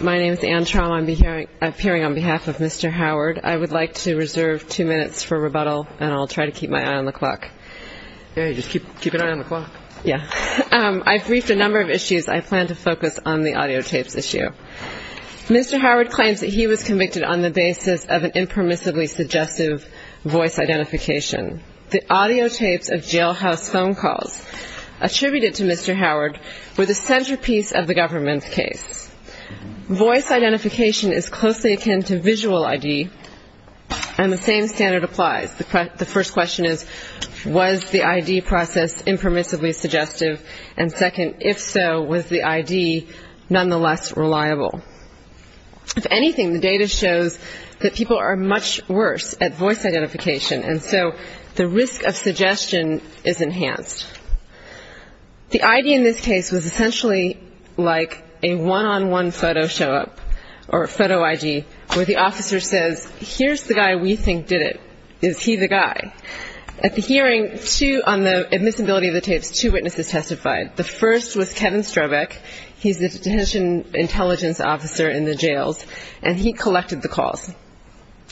My name is Anne Traum. I'm appearing on behalf of Mr. Howard. I would like to reserve two minutes for rebuttal and I'll try to keep my eye on the clock. Okay, just keep an eye on the clock. Yeah. I've briefed a number of issues. I plan to focus on the audio tapes issue. Mr. Howard claims that he was convicted on the basis of an impermissibly suggestive voice identification. The audio tapes of jailhouse phone calls attributed to Mr. Howard were the centerpiece of the government's case. Voice identification is closely akin to visual ID and the same standard applies. The first question is, was the ID process impermissibly suggestive? And second, if so, was the ID nonetheless reliable? If anything, the data shows that people are much worse at voice identification and so the risk of suggestion is enhanced. The ID in this case was essentially like a one-on-one photo show-up or photo ID where the officer says, here's the guy we think did it. Is he the guy? At the hearing, two on the admissibility of the tapes, two witnesses testified. The first was Kevin Strobeck. He's the detention intelligence officer in the jails and he collected the calls.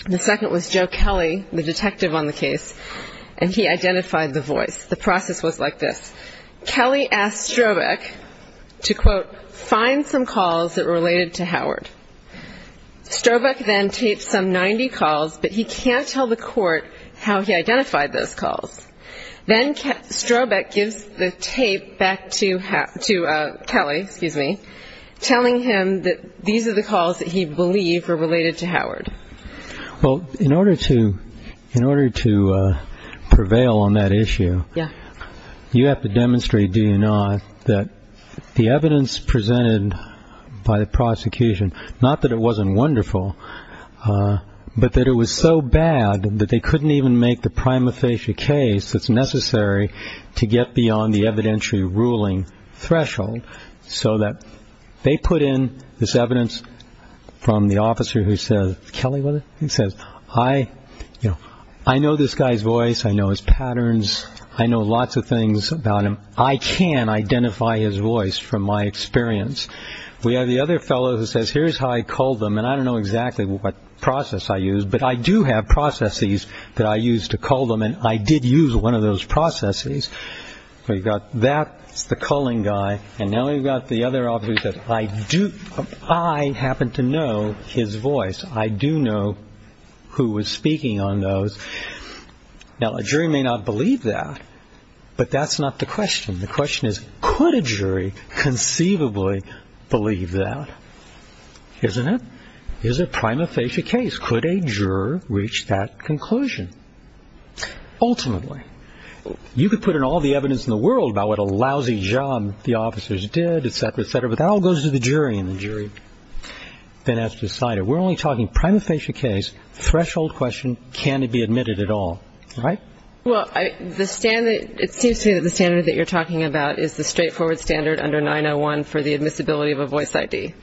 The second was Joe Kelly, the detective on the case, and he identified the voice. The process was like this. Kelly asked Strobeck to, quote, find some calls that were related to Howard. Strobeck then taped some 90 calls, but he can't tell the court how he identified those calls. Then Strobeck gives the tape back to Kelly, excuse me, telling him that these are the calls that were related to Howard. Well, in order to prevail on that issue, you have to demonstrate, do you not, that the evidence presented by the prosecution, not that it wasn't wonderful, but that it was so bad that they couldn't even make the prima facie case that's necessary to get beyond the evidentiary ruling threshold so that they put in this evidence from the officer who says, Kelly was it? He says, I know this guy's voice, I know his patterns, I know lots of things about him. I can identify his voice from my experience. We have the other fellow who says, here's how I culled them, and I don't know exactly what process I used, but I do have processes that I used to cull them, and I did use one of those processes. So you've got that, it's the culling guy, and now we've got the other officer who says, I do, I happen to know his voice, I do know who was speaking on those. Now, a jury may not believe that, but that's not the question. The question is, could a jury conceivably believe that? Isn't it? Is it a prima facie case? Could a juror reach that conclusion? Ultimately, you could put in all the evidence in the world about what a lousy job the officers did, etc., but that all goes to the jury, and the jury then has to decide it. We're only talking prima facie case, threshold question, can it be admitted at all, right? Well, the standard, it seems to me that the standard that you're talking about is the straightforward standard under 901 for the admissibility of a voice ID.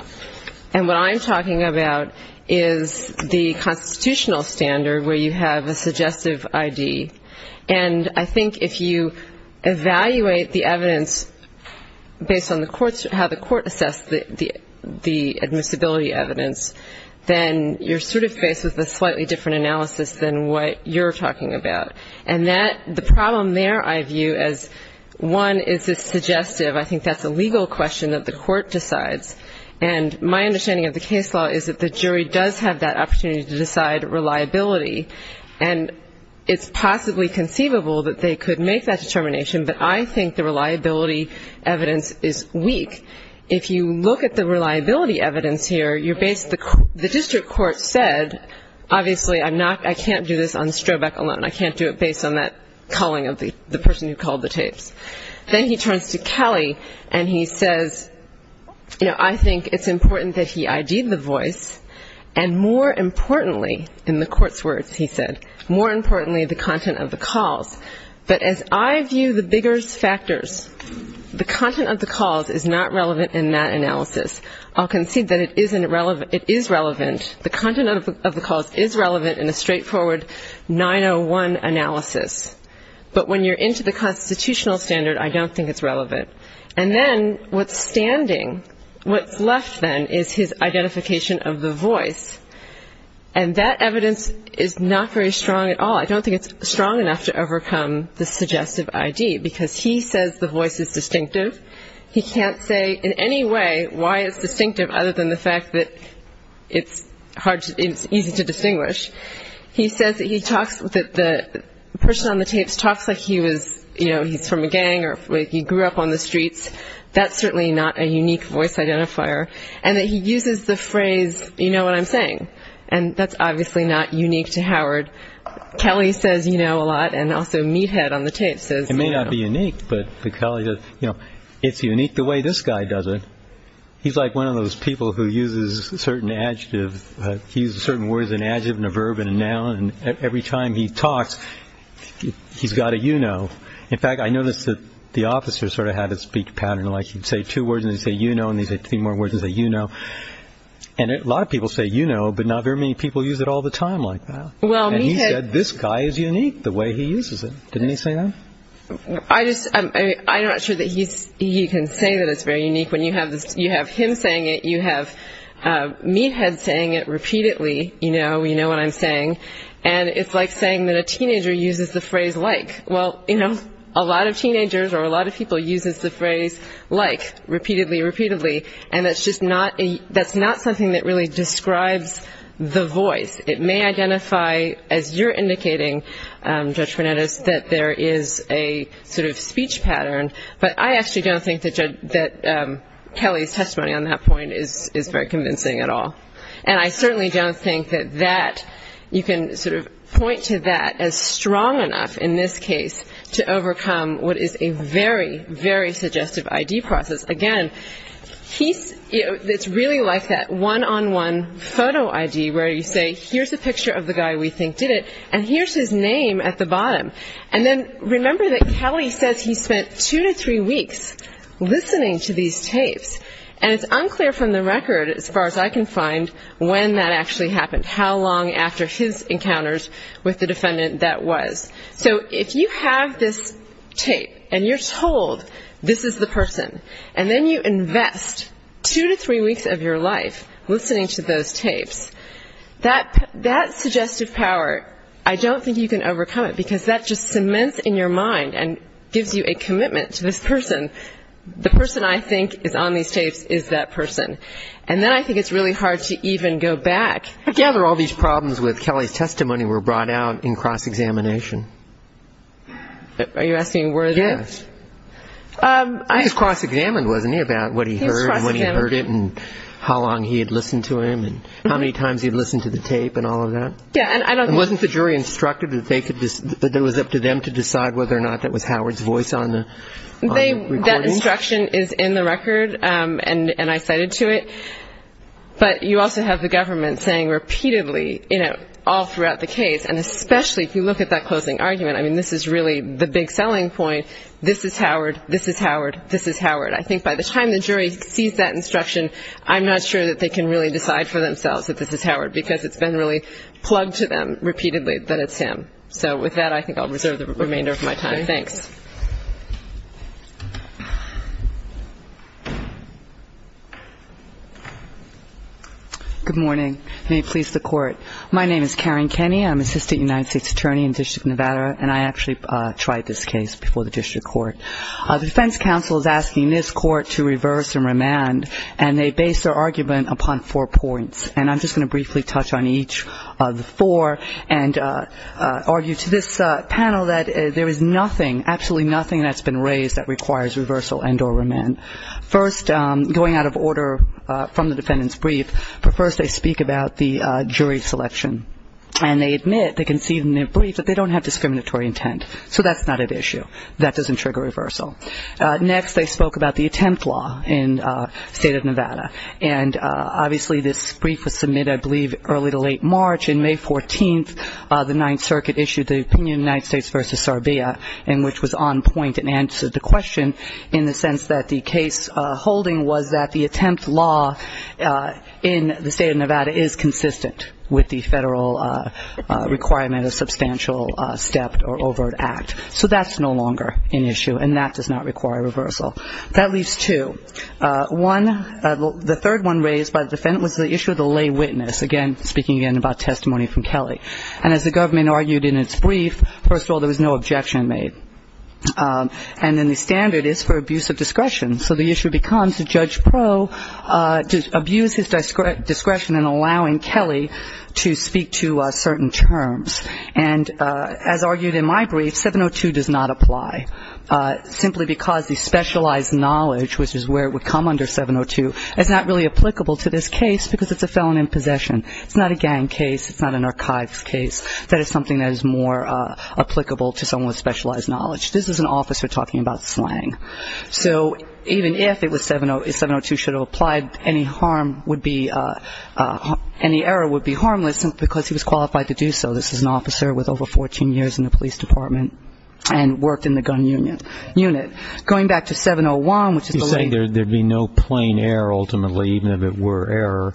And what I'm talking about is the constitutional standard where you have a suggestive ID, and I think if you evaluate the evidence based on the court's, how the court assessed the admissibility evidence, then you're sort of faced with a slightly different analysis than what you're talking about. And that, the problem there, I view as, one, is it's suggestive, I think that's a legal question that the court decides, and my understanding of the case law is that the jury does have that opportunity to decide reliability, and it's possibly conceivable that they could make that determination, but I think the reliability evidence is weak. If you look at the reliability evidence here, you're based, the district court said, obviously I'm not, I can't do this on Strobeck alone, I can't do it based on that calling of the person who called the tapes. Then he turns to Kelly, and he says, you know, I think it's important that he ID'd the voice, and more importantly, in the court's words, he said, more importantly, the content of the calls. But as I view the bigger factors, the content of the calls is not relevant in that analysis. I'll concede that it is relevant, the content of the calls is relevant in a straightforward 901 analysis, but when you're into the constitutional standard, I don't think it's relevant. And then, what's standing, what's left, then, is his identification of the voice, and that evidence is not very strong at all. I don't think it's strong enough to overcome the suggestive ID, because he says the voice is distinctive. He can't say in any way why it's distinctive, other than the fact that it's hard, it's easy to distinguish. He says that he talks, that the person on the tapes talks like he was, you know, he's from a gang, or he grew up on the streets. That's certainly not a unique voice identifier, and that he uses the phrase, you know what I'm saying, and that's obviously not unique to Howard. Kelly says, you know, a lot, and also Meathead on the tapes says, you know. It may not be unique, but Kelly says, you know, it's unique the way this guy does it. He's like one of those people who uses certain adjectives, he uses certain words and adjectives and a verb and a noun, and every time he talks, he's got a you know. In fact, I noticed that the officer sort of had a speak pattern, like he'd say two words and he'd say, you know, and he'd say three more words and he'd say, you know. And a lot of people say, you know, but not very many people use it all the time like that. Well, Meathead And he said, this guy is unique the way he uses it. Didn't he say that? I just, I'm not sure that he can say that it's very unique when you have him saying it, you have Meathead saying it repeatedly, you know, you know what I'm saying, and it's like saying that a teenager uses the phrase like, well, you know, a lot of teenagers or a lot of people uses the phrase like, repeatedly, repeatedly, and that's just not a, that's not something that really describes the voice. It may identify, as you're indicating, Judge Fernandes, that there is a sort of speech pattern, but I actually don't think that Kelly's testimony on that point is very convincing at all. And I certainly don't think that that, you can sort of point to that as strong enough in this case to overcome what is a very, very suggestive ID process. Again, he's, it's really like that one-on-one photo ID where you say, here's a picture of the guy we think did it, and here's his name at the bottom. And then remember that Kelly says he spent two to three weeks trying to find when that actually happened, how long after his encounters with the defendant that was. So if you have this tape, and you're told this is the person, and then you invest two to three weeks of your life listening to those tapes, that suggestive power, I don't think you can overcome it, because that just cements in your mind and gives you a commitment to this person. The person I think is on these tapes is that person. And then I think it's really hard to even go back. I gather all these problems with Kelly's testimony were brought out in cross-examination. Are you asking where they're at? Yes. I think it's cross-examined, wasn't it, about what he heard and when he heard it and how long he had listened to him and how many times he had listened to the tape and all of that? Yeah, and I don't think Wasn't the jury instructed that they could, that it was up to them to decide whether or not that was Howard's voice on the recording? Instruction is in the record, and I cited to it. But you also have the government saying repeatedly all throughout the case, and especially if you look at that closing argument, I mean, this is really the big selling point, this is Howard, this is Howard, this is Howard. I think by the time the jury sees that instruction, I'm not sure that they can really decide for themselves that this is Howard, because it's been really plugged to them repeatedly that it's him. So with that, I think I'll reserve the remainder of my time. Thanks. Good morning. May it please the Court. My name is Karen Kenny. I'm Assistant United States Attorney in the District of Nevada, and I actually tried this case before the District Court. The Defense Council is asking this Court to reverse and remand, and they base their argument upon four points. And I'm just going to briefly touch on each of them here, and argue to this panel that there is nothing, absolutely nothing that's been raised that requires reversal and or remand. First, going out of order from the defendant's brief, but first I speak about the jury selection. And they admit, they concede in their brief that they don't have discriminatory intent. So that's not at issue. That doesn't trigger reversal. Next, they spoke about the attempt law in the State of Nevada. And obviously this brief was submitted, I believe, early to late March. In May 14th, the Ninth Circuit issued the opinion of the United States v. Sarbia, in which was on point and answered the question in the sense that the case holding was that the attempt law in the State of Nevada is consistent with the federal requirement of substantial step or overt act. So that's no longer an issue, and that does not require reversal. That leaves two. One, the third one raised by the defendant was the issue of the lay witness. Again, speaking again about testimony from Kelly. And as the government argued in its brief, first of all, there was no objection made. And then the standard is for abuse of discretion. So the issue becomes that Judge Proe abused his discretion in allowing Kelly to speak to certain terms. And as argued in my brief, 702 does not apply, simply because the specialized knowledge, which is where it would come under 702, is not really applicable to this case because it's a felon in possession. It's not a gang case. It's not an archives case. That is something that is more applicable to someone with specialized knowledge. This is an officer talking about slang. So even if it was 702 should have applied, any harm would be, any error would be harmless because he was qualified to do so. This is an officer with over 14 years in the police department and worked in the gun unit. Going back to 701, which is the lawyer. You're saying there would be no plain error, ultimately, even if it were error.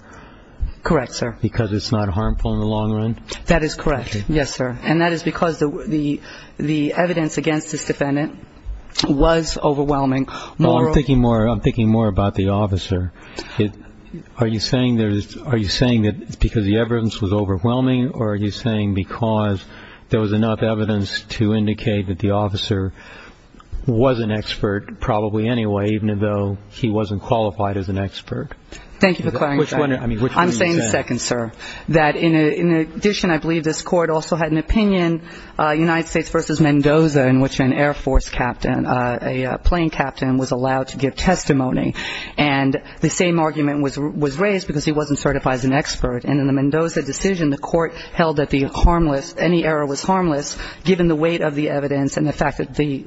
Correct, sir. Because it's not harmful in the long run? That is correct. Yes, sir. And that is because the evidence against this defendant was overwhelming. Well, I'm thinking more about the officer. Are you saying that it's because the evidence was overwhelming or are you saying because there was enough evidence to indicate that the officer was an expert, probably anyway, even though he wasn't qualified as an expert? Thank you for clarifying. I'm saying the second, sir. That in addition, I believe this court also had an opinion, United States v. Mendoza, in which an Air Force captain, a plane captain, was allowed to give testimony. And the same argument was raised because he wasn't certified as an expert. And in the Mendoza decision, the court held that the harmless, any error was harmless, given the weight of the evidence and the fact that the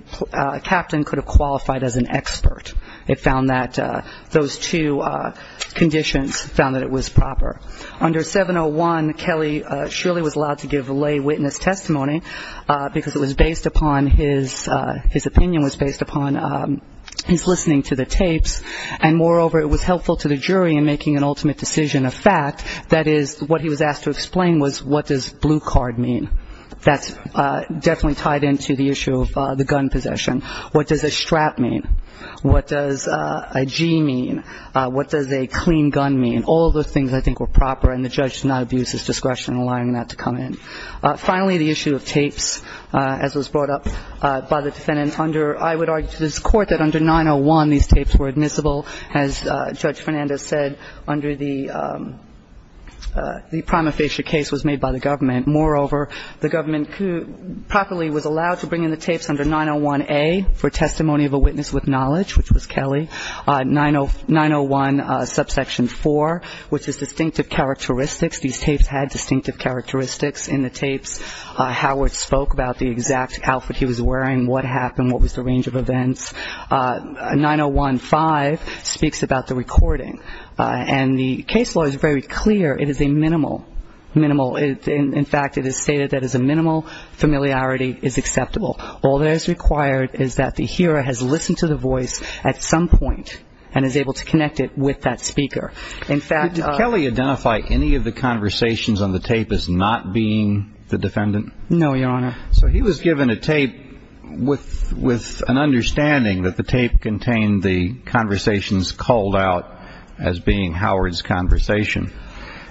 captain could have qualified as an expert. It found that those two conditions found that it was proper. Under 701, Kelly surely was allowed to give lay witness testimony because it was based upon his opinion, was based upon his listening to the tapes. And moreover, it was helpful to the jury in making an ultimate decision of fact. That is, what he was asked to explain was what does blue card mean? That's definitely tied into the issue of the gun possession. What does a strap mean? What does a G mean? What does a clean gun mean? All of those things I think were proper and the judge did not abuse his discretion in allowing that to come in. Finally, the issue of tapes, as was brought up by the defendant under, I would argue to this court that under 901 these tapes were admissible, as Judge Fernandez said, under the prima facie case was made by the government. Moreover, the government properly was allowed to bring in the tapes under 901A for testimony of a witness with knowledge, which was Kelly. 901 subsection 4, which is distinctive characteristics. These tapes had distinctive characteristics in the tapes. Howard spoke about the exact outfit he was wearing, what happened, what was the range of events. 901-5 speaks about the recording. And the case law is very clear. It is a minimal, minimal, in fact, it is stated that it is a minimal familiarity is acceptable. All that is required is that the hearer has listened to the voice at some point and is able to connect it with that speaker. In fact, Did Kelly identify any of the conversations on the tape as not being the defendant? No, Your Honor. So he was given a tape with an understanding that the tape contained the conversations called out as being Howard's conversation.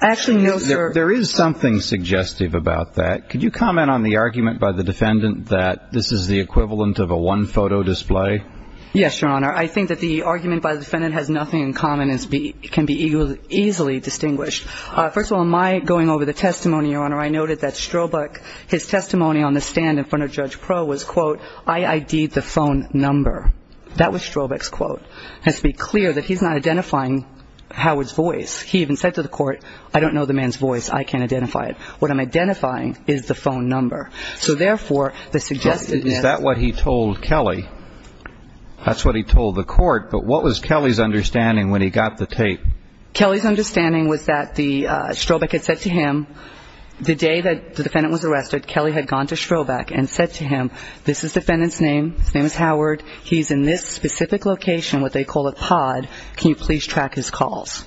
Actually, no, sir. There is something suggestive about that. Could you comment on the argument by the defendant that this is the equivalent of a one-photo display? Yes, Your Honor. I think that the argument by the defendant has nothing in common, can be easily distinguished. First of all, my going over the testimony, Your Honor, I noted that Strobach, his testimony on the stand in front of Judge Proulx was, quote, I ID'd the phone number. That was Strobach's quote. It has to be clear that he is not identifying Howard's voice. He even said to the court, I don't know the man's voice. I can't identify it. What I'm identifying is the phone number. So therefore, the suggestiveness Is that what he told Kelly? That's what he told the court. But what was Kelly's understanding when he got the tape? Kelly's understanding was that Strobach had said to him, the day that the defendant was arrested, Kelly had gone to Strobach and said to him, this is defendant's name. His name is Howard. He's in this specific location, what they call a pod. Can you please track his calls?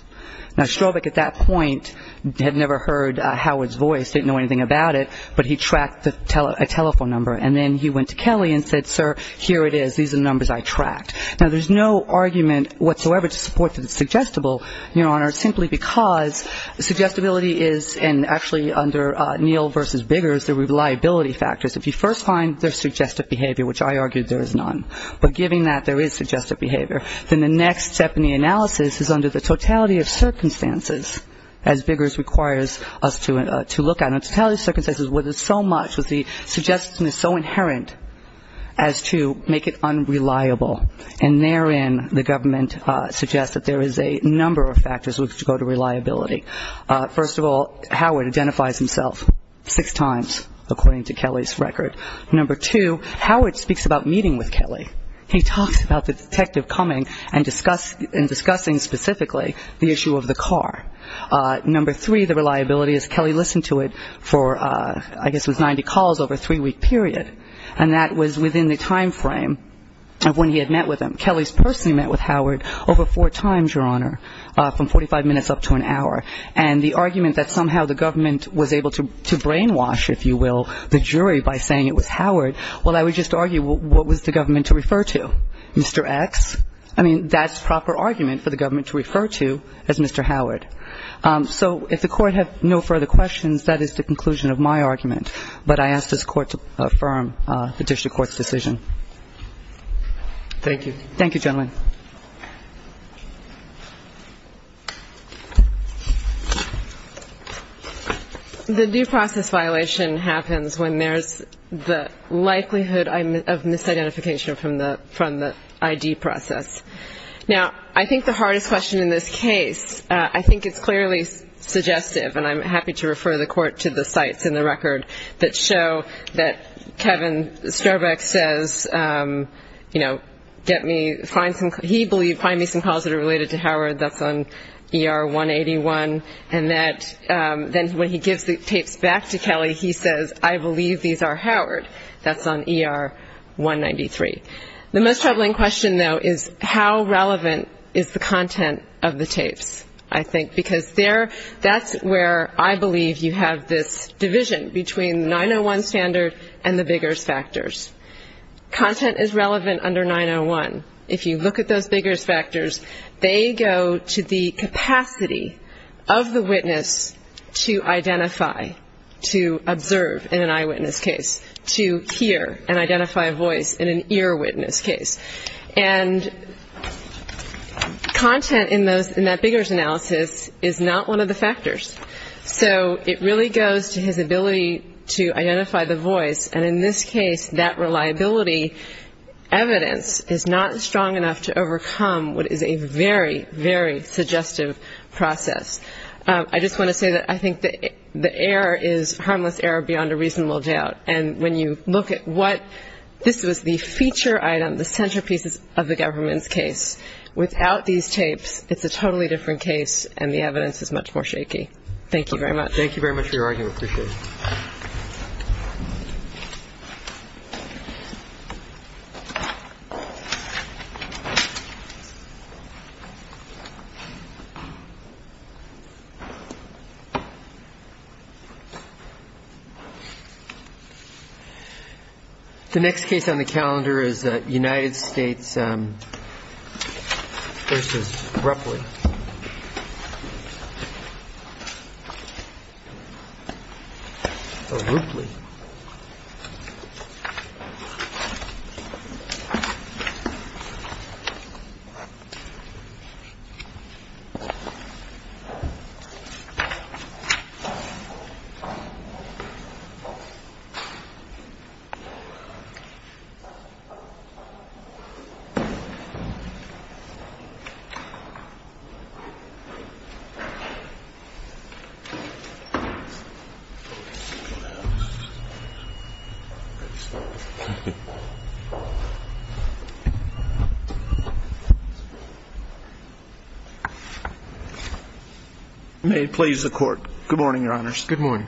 Now, Strobach at that point had never heard Howard's voice, didn't know anything about it, but he tracked a telephone number. And then he went to Kelly and said, sir, here it is. These are the numbers I tracked. Now, there's no argument whatsoever to support that it's suggestible, Your Honor, simply because suggestibility is, and actually under Neal versus Biggers, the reliability factors. If you first find there's suggestive behavior, which I argued there is none, but given that there is suggestive behavior, then the next step in the analysis is under the totality of circumstances, as Biggers requires us to look at. And the totality of circumstances where there's so much, where the suggestion is so inherent as to make it unreliable. And therein, the government suggests that there is a number of factors which go to reliability. First of all, Howard identifies himself six times, according to Kelly's record. Number two, Howard speaks about meeting with Kelly. He talks about the detective coming and discussing specifically the issue of the car. Number three, the reliability is Kelly listened to Howard for, I guess it was 90 calls over a three-week period. And that was within the time frame of when he had met with him. Kelly's personally met with Howard over four times, Your Honor, from 45 minutes up to an hour. And the argument that somehow the government was able to brainwash, if you will, the jury by saying it was Howard, well, I would just argue what was the government to refer to? Mr. X? I mean, that's proper argument for the government to refer to as Mr. Howard. So if the court has no further questions, that is the conclusion of my argument. But I ask this court to affirm the district court's decision. Thank you. Thank you, gentlemen. The due process violation happens when there's the likelihood of misidentification from the ID process. Now, I think the hardest question in this case, I think it's clearly suggestive. And I'm happy to refer the court to the sites in the record that show that Kevin Strobeck says, you know, get me, find some, he believed, find me some calls that are related to Howard. That's on ER 181. And that, then when he gives the tapes back to Kelly, he says, I believe these are Howard. That's on ER 193. The most troubling question, though, is how relevant is the content of the tapes, I think. Because there, that's where I believe you have this division between 901 standard and the Biggers factors. Content is relevant under 901. If you look at those Biggers factors, they go to the capacity of the witness to identify, to observe in an eyewitness case. To hear and identify a voice in an earwitness case. And content in those, in that Biggers analysis is not one of the factors. So it really goes to his ability to identify the voice. And in this case, that reliability evidence is not strong enough to overcome what is a very, very suggestive process. I just want to say that I think the error is, harmless error beyond a reasonable doubt. And when you look at what, this was the feature item, the centerpieces of the government's case. Without these tapes, it's a totally different case and the evidence is much more shaky. Thank you very much. Thank you very much for your argument. I appreciate it. The next case on the calendar is United States v. Ruffley. Thank you very much. May it please the court. Good morning, your honors. Good morning.